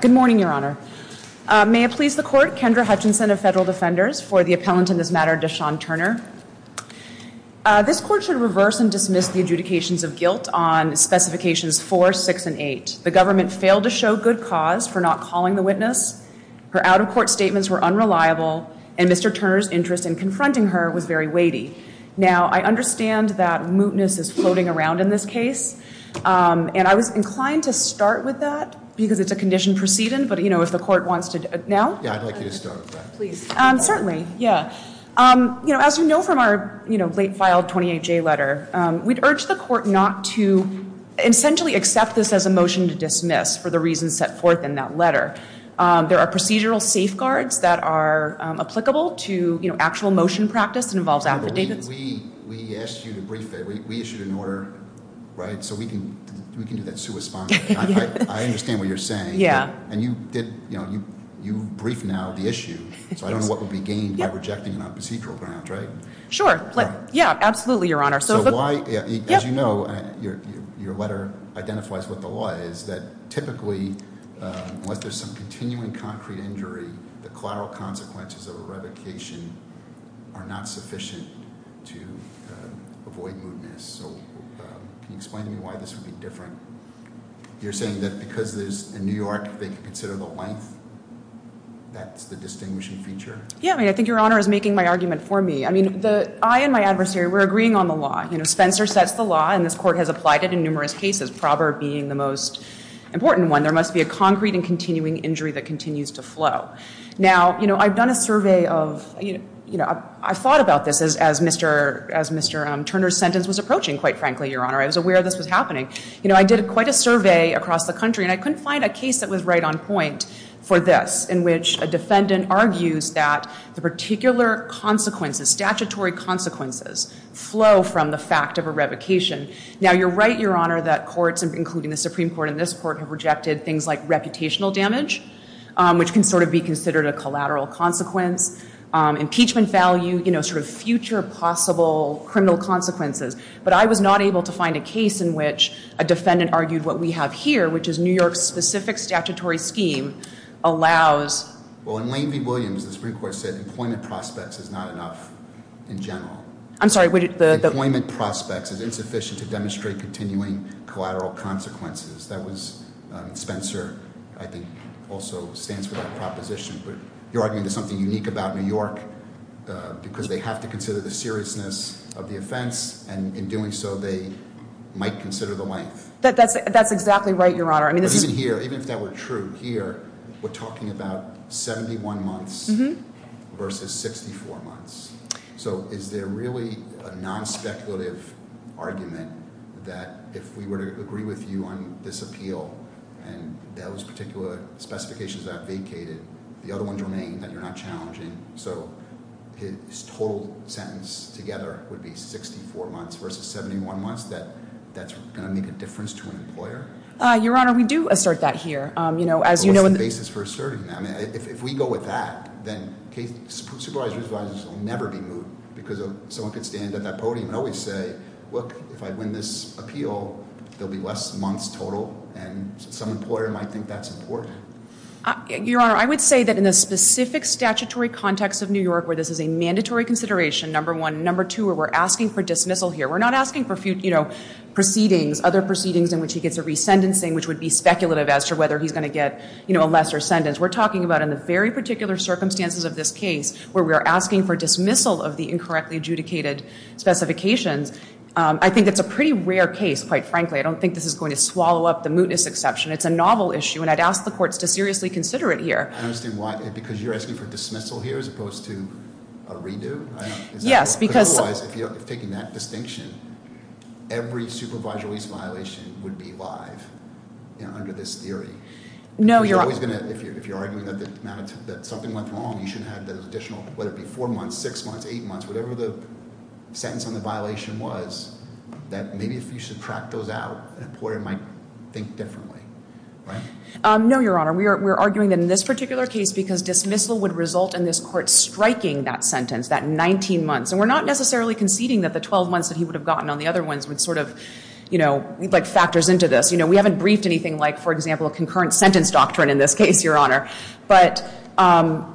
Good morning, Your Honor. May it please the Court, Kendra Hutchinson of Federal Defenders, for the appellant in this matter, Deshawn Turner. This Court should reverse and dismiss the adjudications of guilt on specifications 4, 6, and 8. The government failed to show good cause for not calling the witness. Her out-of-court statements were unreliable, and Mr. Turner's interest in confronting her was very weighty. Now, I understand that mootness is floating around in this case, and I was inclined to start with that because it's a condition proceeding, but you know, if the Court wants to... Now? Yeah, I'd like you to start with that. Please. Certainly, yeah. You know, as you know from our, you know, late-filed 28J letter, we'd urge the Court not to essentially accept this as a motion to dismiss for the reasons set forth in that letter. There are procedural safeguards that are applicable to, you know, actual motion practice that involves affidavits. We asked you to brief it. We issued an order, right, so we can do that I understand what you're saying. Yeah. And you did, you know, you briefed now the issue, so I don't know what would be gained by rejecting it on procedural grounds, right? Sure. Yeah, absolutely, Your Honor. So why, as you know, your letter identifies what the law is, that typically, unless there's some continuing concrete injury, the collateral You're saying that because there's, in New York, they can consider the length? That's the distinguishing feature? Yeah, I mean, I think Your Honor is making my argument for me. I mean, I and my adversary were agreeing on the law. You know, Spencer sets the law, and this Court has applied it in numerous cases, Probert being the most important one. There must be a concrete and continuing injury that continues to flow. Now, you know, I've done a survey of, you know, I've thought about this as Mr. Turner's sentence was approaching, quite frankly, Your Honor. I was aware this was happening. You know, I did quite a survey across the country, and I couldn't find a case that was right on point for this, in which a defendant argues that the particular consequences, statutory consequences, flow from the fact of a revocation. Now, you're right, Your Honor, that courts, including the Supreme Court and this Court, have rejected things like reputational damage, which can sort of be considered a collateral consequence. Impeachment value, you know, sort of future possible criminal consequences. But I was not able to find a case in which a defendant argued what we have here, which is New York's specific statutory scheme allows Well, in Lane v. Williams, the Supreme Court said employment prospects is not enough in general. I'm sorry. Employment prospects is insufficient to demonstrate continuing collateral consequences. That was Spencer, I think, also stands for that proposition. But you're arguing there's something unique about New York, because they have to consider the seriousness of the offense, and in doing so, they might consider the length. That's exactly right, Your Honor. But even here, even if that were true, here, we're talking about 71 months versus 64 months. So is there really a non-speculative argument that if we were to agree with you on this appeal and those particular specifications are vacated, the other ones remain, that you're not challenging? So his total sentence together would be 64 months versus 71 months, that that's going to make a difference to an employer? Your Honor, we do assert that here. Well, what's the basis for asserting that? I mean, if we go with that, then supervisor's advisers will never be moved, because someone could stand at that podium and always say, look, if I win this appeal, there'll be less months total, and some employer might think that's important. Your Honor, I would say that in the specific statutory context of New York where this is a mandatory consideration, number one. which would be speculative as to whether he's going to get a lesser sentence. We're talking about in the very particular circumstances of this case where we are asking for dismissal of the incorrectly adjudicated specifications. I think that's a pretty rare case, quite frankly. I don't think this is going to swallow up the mootness exception. It's a novel issue, and I'd ask the courts to seriously consider it here. I understand why, because you're asking for dismissal here as opposed to a redo? Yes, because— Under this theory. No, Your Honor. If you're arguing that something went wrong, you should have the additional, whether it be four months, six months, eight months, whatever the sentence on the violation was, that maybe if you subtract those out, an employer might think differently. Right? No, Your Honor. We're arguing that in this particular case because dismissal would result in this court striking that sentence, that 19 months. And we're not necessarily conceding that the 12 months that he would have gotten on the other ones would sort of, you know, like factors into this. You know, we haven't briefed anything like, for example, a concurrent sentence doctrine in this case, Your Honor. But,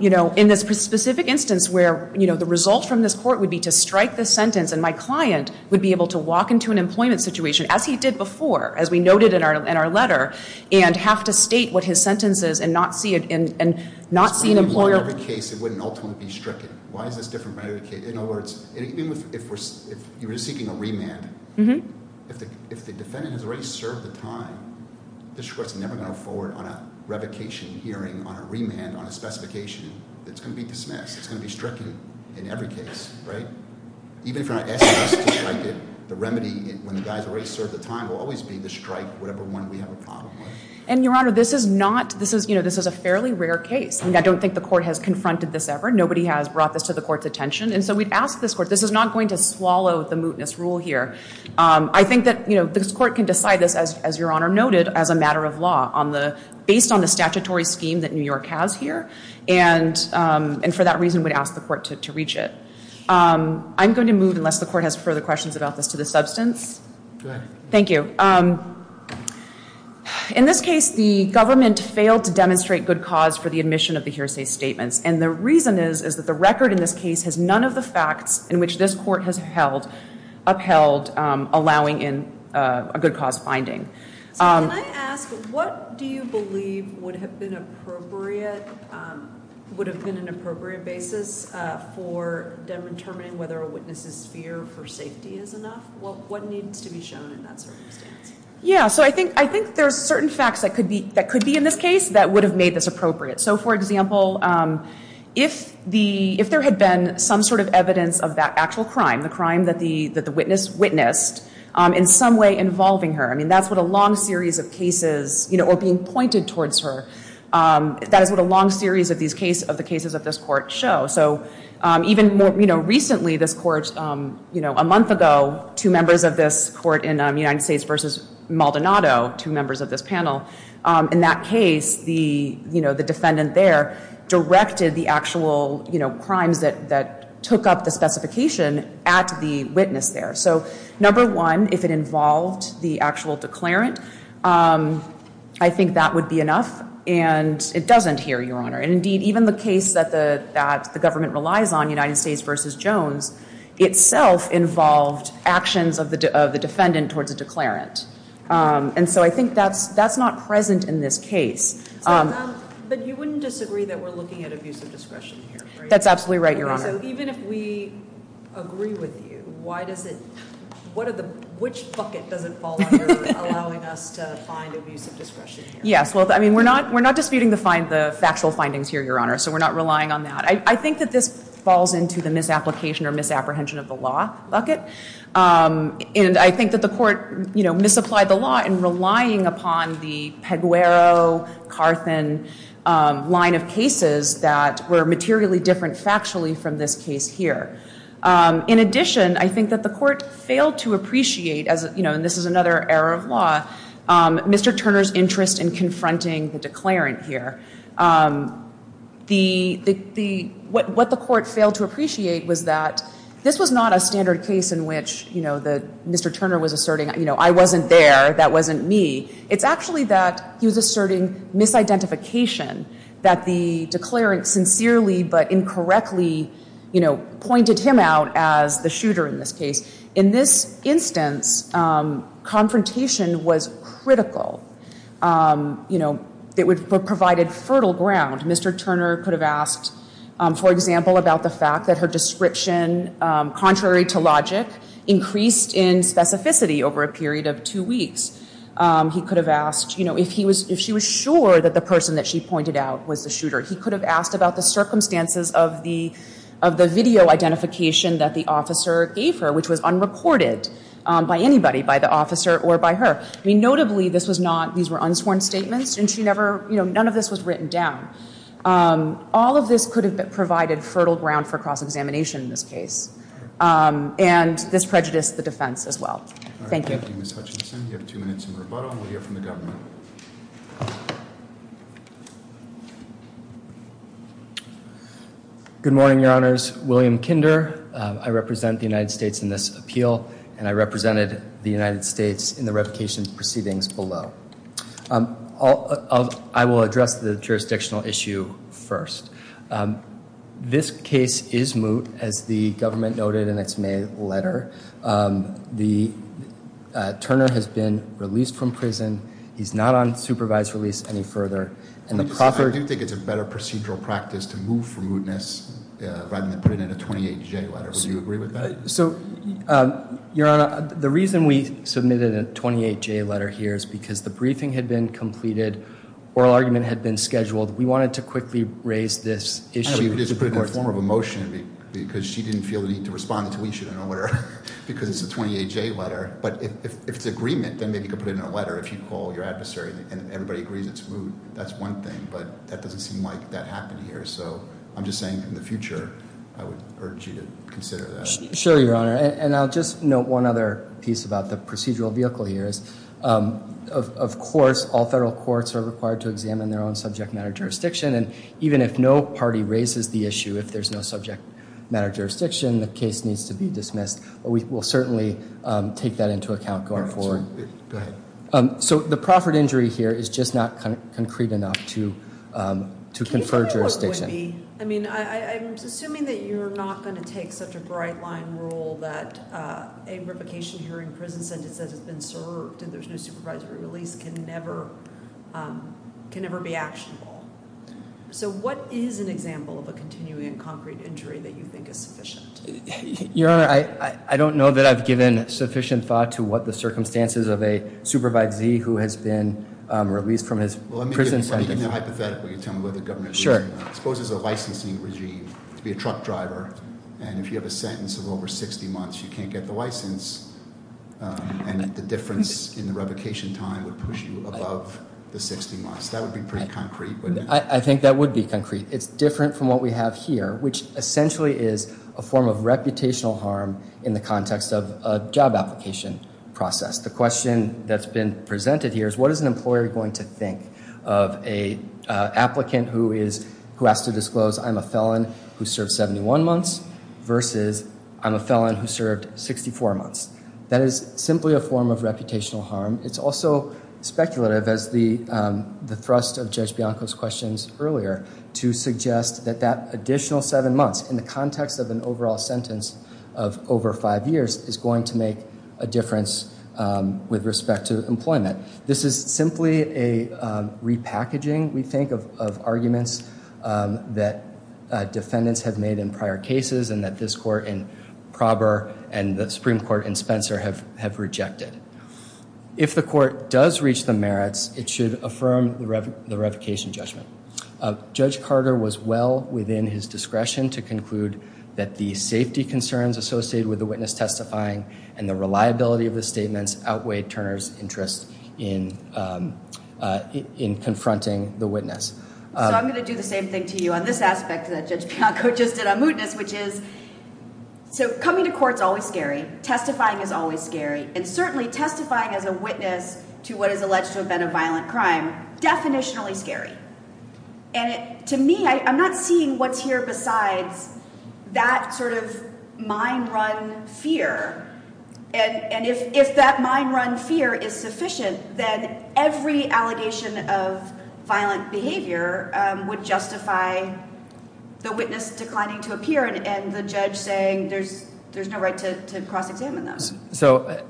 you know, in this specific instance where, you know, the result from this court would be to strike the sentence and my client would be able to walk into an employment situation, as he did before, as we noted in our letter, and have to state what his sentence is and not see an employer— In other words, if you were seeking a remand, if the defendant has already served the time, this court's never going to go forward on a revocation hearing, on a remand, on a specification that's going to be dismissed. It's going to be stricken in every case. Even if you're not asking us to strike it, the remedy, when the guy's already served the time, will always be to strike whatever one we have a problem with. And, Your Honor, this is not, you know, this is a fairly rare case. I don't think the court has confronted this ever. Nobody has brought this to the court's attention. And so we'd ask this court—this is not going to swallow the mootness rule here. I think that, you know, this court can decide this, as Your Honor noted, as a matter of law on the—based on the statutory scheme that New York has here. And for that reason, we'd ask the court to reach it. I'm going to move, unless the court has further questions about this, to the substance. Go ahead. Thank you. In this case, the government failed to demonstrate good cause for the admission of the hearsay statements. And the reason is that the record in this case has none of the facts in which this court has upheld allowing in a good cause finding. So can I ask, what do you believe would have been appropriate—would have been an appropriate basis for determining whether a witness's fear for safety is enough? What needs to be shown in that circumstance? Yeah, so I think there's certain facts that could be in this case that would have made this appropriate. So, for example, if the—if there had been some sort of evidence of that actual crime, the crime that the witness witnessed, in some way involving her, I mean, that's what a long series of cases, you know, or being pointed towards her, that is what a long series of these cases—of the cases of this court show. So even, you know, recently this court, you know, a month ago, two members of this court in United States v. Maldonado, two members of this panel, in that case, the, you know, the defendant there directed the actual, you know, crimes that took up the specification at the witness there. So, number one, if it involved the actual declarant, I think that would be enough. And it doesn't here, Your Honor. And indeed, even the case that the government relies on, United States v. Jones, itself involved actions of the defendant towards a declarant. And so I think that's not present in this case. But you wouldn't disagree that we're looking at abusive discretion here, right? That's absolutely right, Your Honor. So even if we agree with you, why does it—what are the—which bucket does it fall under allowing us to find abusive discretion here? Yes, well, I mean, we're not disputing the factual findings here, Your Honor, so we're not relying on that. I think that this falls into the misapplication or misapprehension of the law bucket. And I think that the court, you know, misapplied the law in relying upon the Peguero-Carthen line of cases that were materially different factually from this case here. In addition, I think that the court failed to appreciate, you know, and this is another error of law, Mr. Turner's interest in confronting the declarant here. The—what the court failed to appreciate was that this was not a standard case in which, you know, Mr. Turner was asserting, you know, I wasn't there, that wasn't me. It's actually that he was asserting misidentification, that the declarant sincerely but incorrectly, you know, pointed him out as the shooter in this case. In this instance, confrontation was critical, you know, that would—provided fertile ground. Mr. Turner could have asked, for example, about the fact that her description, contrary to logic, increased in specificity over a period of two weeks. He could have asked, you know, if he was—if she was sure that the person that she pointed out was the shooter. He could have asked about the circumstances of the video identification that the officer gave her, which was unreported by anybody, by the officer or by her. I mean, notably, this was not—these were unsworn statements, and she never—you know, none of this was written down. All of this could have provided fertile ground for cross-examination in this case, and this prejudiced the defense as well. Thank you. Thank you, Ms. Hutchinson. You have two minutes in rebuttal, and we'll hear from the government. Good morning, Your Honors. My name is William Kinder. I represent the United States in this appeal, and I represented the United States in the revocation proceedings below. I will address the jurisdictional issue first. This case is moot, as the government noted in its May letter. The—Turner has been released from prison. He's not on supervised release any further. I do think it's a better procedural practice to move from mootness rather than put it in a 28-J letter. Would you agree with that? So, Your Honor, the reason we submitted a 28-J letter here is because the briefing had been completed, oral argument had been scheduled. We wanted to quickly raise this issue. She just put it in the form of a motion because she didn't feel the need to respond to each of them in order, because it's a 28-J letter. But if it's agreement, then maybe you could put it in a letter if you call your adversary and everybody agrees it's moot. That's one thing, but that doesn't seem like that happened here. So I'm just saying in the future, I would urge you to consider that. Sure, Your Honor. And I'll just note one other piece about the procedural vehicle here is, of course, all federal courts are required to examine their own subject matter jurisdiction. And even if no party raises the issue, if there's no subject matter jurisdiction, the case needs to be dismissed. We will certainly take that into account going forward. Go ahead. So the proffered injury here is just not concrete enough to confer jurisdiction. I mean, I'm assuming that you're not going to take such a bright line rule that a revocation hearing prison sentence that has been served and there's no supervisory release can never be actionable. So what is an example of a continuing and concrete injury that you think is sufficient? Your Honor, I don't know that I've given sufficient thought to what the circumstances of a supervisee who has been released from his prison sentence. Well, let me give you a hypothetical. You tell me whether the government exposes a licensing regime to be a truck driver. And if you have a sentence of over 60 months, you can't get the license. And the difference in the revocation time would push you above the 60 months. That would be pretty concrete, wouldn't it? I think that would be concrete. It's different from what we have here, which essentially is a form of reputational harm in the context of a job application process. The question that's been presented here is what is an employer going to think of an applicant who has to disclose I'm a felon who served 71 months versus I'm a felon who served 64 months. That is simply a form of reputational harm. It's also speculative, as the thrust of Judge Bianco's questions earlier, to suggest that that additional seven months in the context of an overall sentence of over five years is going to make a difference with respect to employment. This is simply a repackaging, we think, of arguments that defendants have made in prior cases and that this court in Prober and the Supreme Court in Spencer have rejected. If the court does reach the merits, it should affirm the revocation judgment. Judge Carter was well within his discretion to conclude that the safety concerns associated with the witness testifying and the reliability of the statements outweighed Turner's interest in confronting the witness. So I'm going to do the same thing to you on this aspect that Judge Bianco just did on mootness, which is so coming to court is always scary. Testifying is always scary and certainly testifying as a witness to what is alleged to have been a violent crime, definitionally scary. And to me, I'm not seeing what's here besides that sort of mind-run fear. And if that mind-run fear is sufficient, then every allegation of violent behavior would justify the witness declining to appear and the judge saying there's no right to cross-examine them. So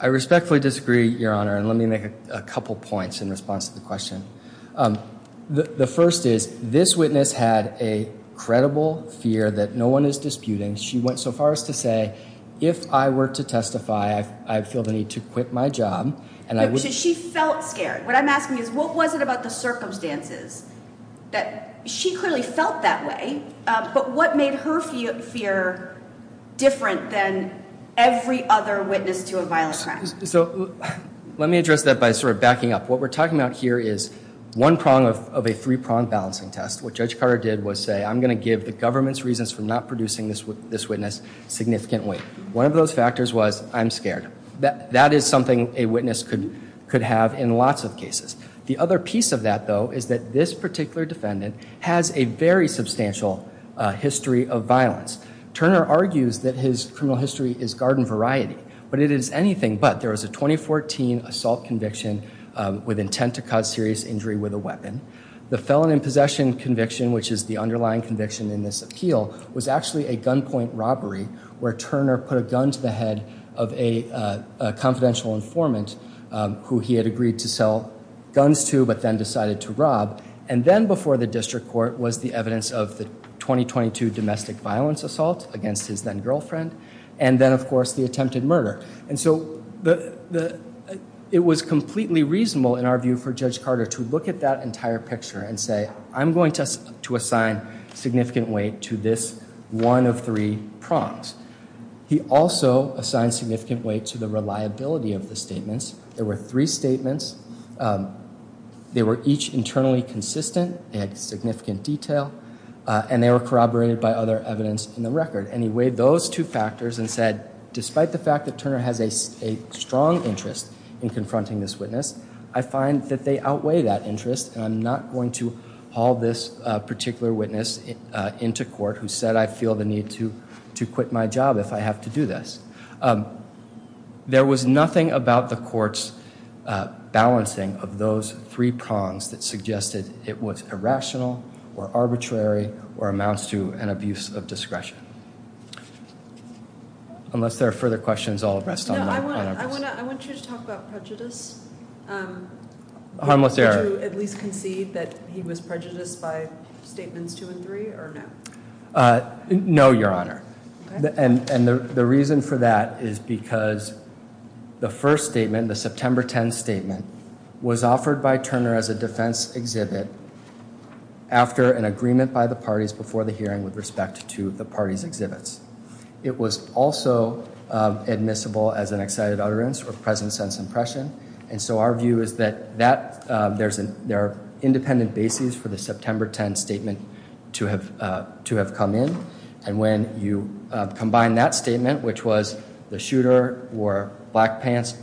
I respectfully disagree, Your Honor, and let me make a couple points in response to the question. The first is this witness had a credible fear that no one is disputing. She went so far as to say, if I were to testify, I feel the need to quit my job. So she felt scared. What I'm asking is what was it about the circumstances that she clearly felt that way, but what made her fear different than every other witness to a violent crime? So let me address that by sort of backing up. What we're talking about here is one prong of a three-pronged balancing test. What Judge Carter did was say, I'm going to give the government's reasons for not producing this witness significant weight. One of those factors was, I'm scared. That is something a witness could have in lots of cases. The other piece of that, though, is that this particular defendant has a very substantial history of violence. Turner argues that his criminal history is garden variety, but it is anything but. There was a 2014 assault conviction with intent to cause serious injury with a weapon. The felon in possession conviction, which is the underlying conviction in this appeal, was actually a gunpoint robbery where Turner put a gun to the head of a confidential informant who he had agreed to sell guns to but then decided to rob. And then before the district court was the evidence of the 2022 domestic violence assault against his then-girlfriend. And then, of course, the attempted murder. And so it was completely reasonable, in our view, for Judge Carter to look at that entire picture and say, I'm going to assign significant weight to this one of three prongs. He also assigned significant weight to the reliability of the statements. There were three statements. They were each internally consistent. They had significant detail. And they were corroborated by other evidence in the record. And he weighed those two factors and said, despite the fact that Turner has a strong interest in confronting this witness, I find that they outweigh that interest. And I'm not going to haul this particular witness into court who said, I feel the need to quit my job if I have to do this. There was nothing about the court's balancing of those three prongs that suggested it was irrational or arbitrary or amounts to an abuse of discretion. Unless there are further questions, I'll rest on my request. No, I want you to talk about prejudice. Harmless error. Would you at least concede that he was prejudiced by statements two and three or no? No, Your Honor. And the reason for that is because the first statement, the September 10 statement, was offered by Turner as a defense exhibit after an agreement by the parties before the hearing with respect to the party's exhibits. It was also admissible as an excited utterance or present sense impression. And so our view is that there are independent bases for the September 10 statement to have come in. And when you combine that statement, which was the shooter wore black pants,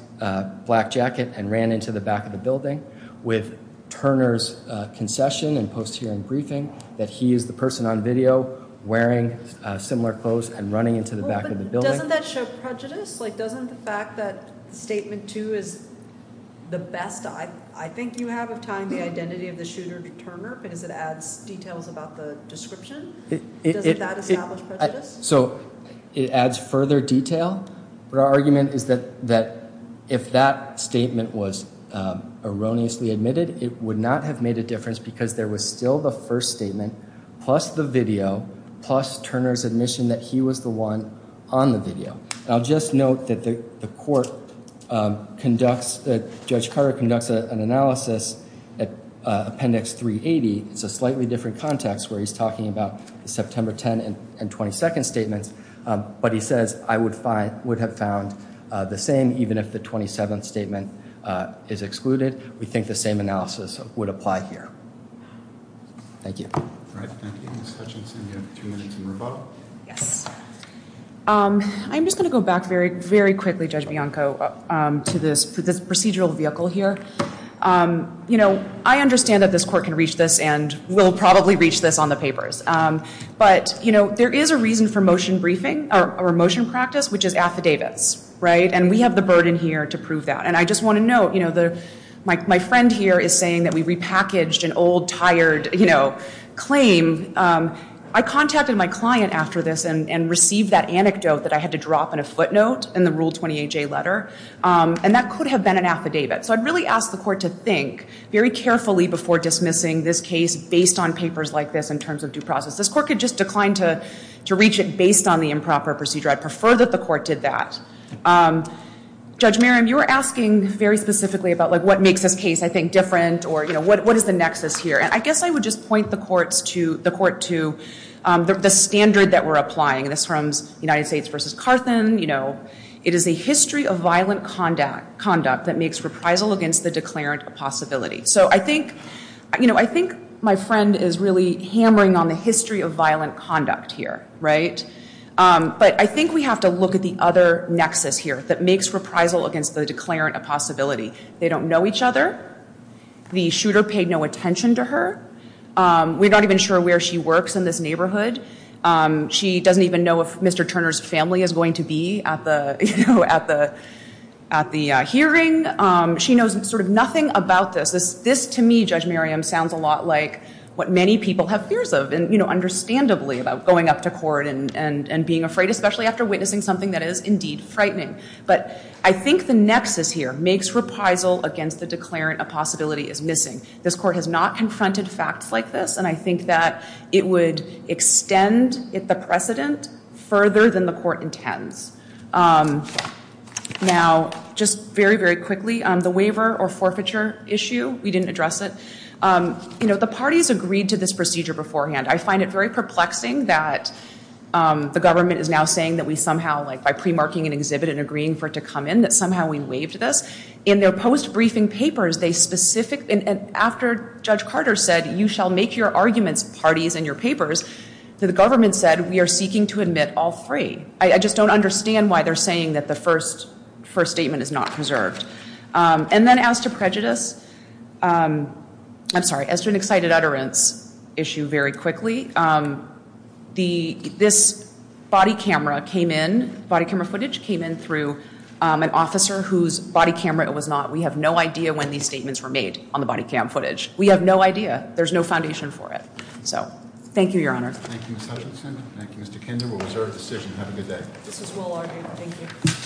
black jacket, and ran into the back of the building, with Turner's concession and post-hearing briefing, that he is the person on video wearing similar clothes and running into the back of the building. Doesn't that show prejudice? Doesn't the fact that statement two is the best I think you have of tying the identity of the shooter to Turner because it adds details about the description? Doesn't that establish prejudice? So it adds further detail. But our argument is that if that statement was erroneously admitted, it would not have made a difference because there was still the first statement, plus the video, plus Turner's admission that he was the one on the video. I'll just note that the court conducts, that Judge Carter conducts an analysis at Appendix 380. It's a slightly different context where he's talking about the September 10 and 22nd statements. But he says, I would have found the same even if the 27th statement is excluded. We think the same analysis would apply here. Thank you. All right. Thank you. Ms. Hutchinson, you have two minutes in rebuttal. Yes. I'm just going to go back very, very quickly, Judge Bianco, to this procedural vehicle here. I understand that this court can reach this and will probably reach this on the papers. But there is a reason for motion briefing or motion practice, which is affidavits. And we have the burden here to prove that. And I just want to note, my friend here is saying that we repackaged an old, tired claim. I contacted my client after this and received that anecdote that I had to drop in a footnote in the Rule 28J letter. And that could have been an affidavit. So I'd really ask the court to think very carefully before dismissing this case based on papers like this in terms of due process. This court could just decline to reach it based on the improper procedure. I'd prefer that the court did that. Judge Merriam, you were asking very specifically about what makes this case, I think, different or what is the nexus here. And I guess I would just point the court to the standard that we're applying. This one's United States v. Carthen. It is a history of violent conduct that makes reprisal against the declarant a possibility. So I think my friend is really hammering on the history of violent conduct here. But I think we have to look at the other nexus here that makes reprisal against the declarant a possibility. They don't know each other. The shooter paid no attention to her. We're not even sure where she works in this neighborhood. She doesn't even know if Mr. Turner's family is going to be at the hearing. She knows sort of nothing about this. This, to me, Judge Merriam, sounds a lot like what many people have fears of, and understandably about going up to court and being afraid, especially after witnessing something that is indeed frightening. But I think the nexus here makes reprisal against the declarant a possibility is missing. This court has not confronted facts like this, and I think that it would extend the precedent further than the court intends. Now, just very, very quickly, the waiver or forfeiture issue, we didn't address it. The parties agreed to this procedure beforehand. I find it very perplexing that the government is now saying that we somehow, like by pre-marking an exhibit and agreeing for it to come in, that somehow we waived this. In their post-briefing papers, they specifically, after Judge Carter said, you shall make your arguments parties in your papers, the government said, we are seeking to admit all three. I just don't understand why they're saying that the first statement is not preserved. And then as to prejudice, I'm sorry, as to an excited utterance issue very quickly, this body camera came in, body camera footage came in through an officer whose body camera was not, we have no idea when these statements were made on the body camera footage. We have no idea. There's no foundation for it. So, thank you, Your Honor. Thank you, Ms. Hutchinson. Thank you, Mr. Kinder. We'll reserve the decision. Have a good day. This is well argued. Thank you.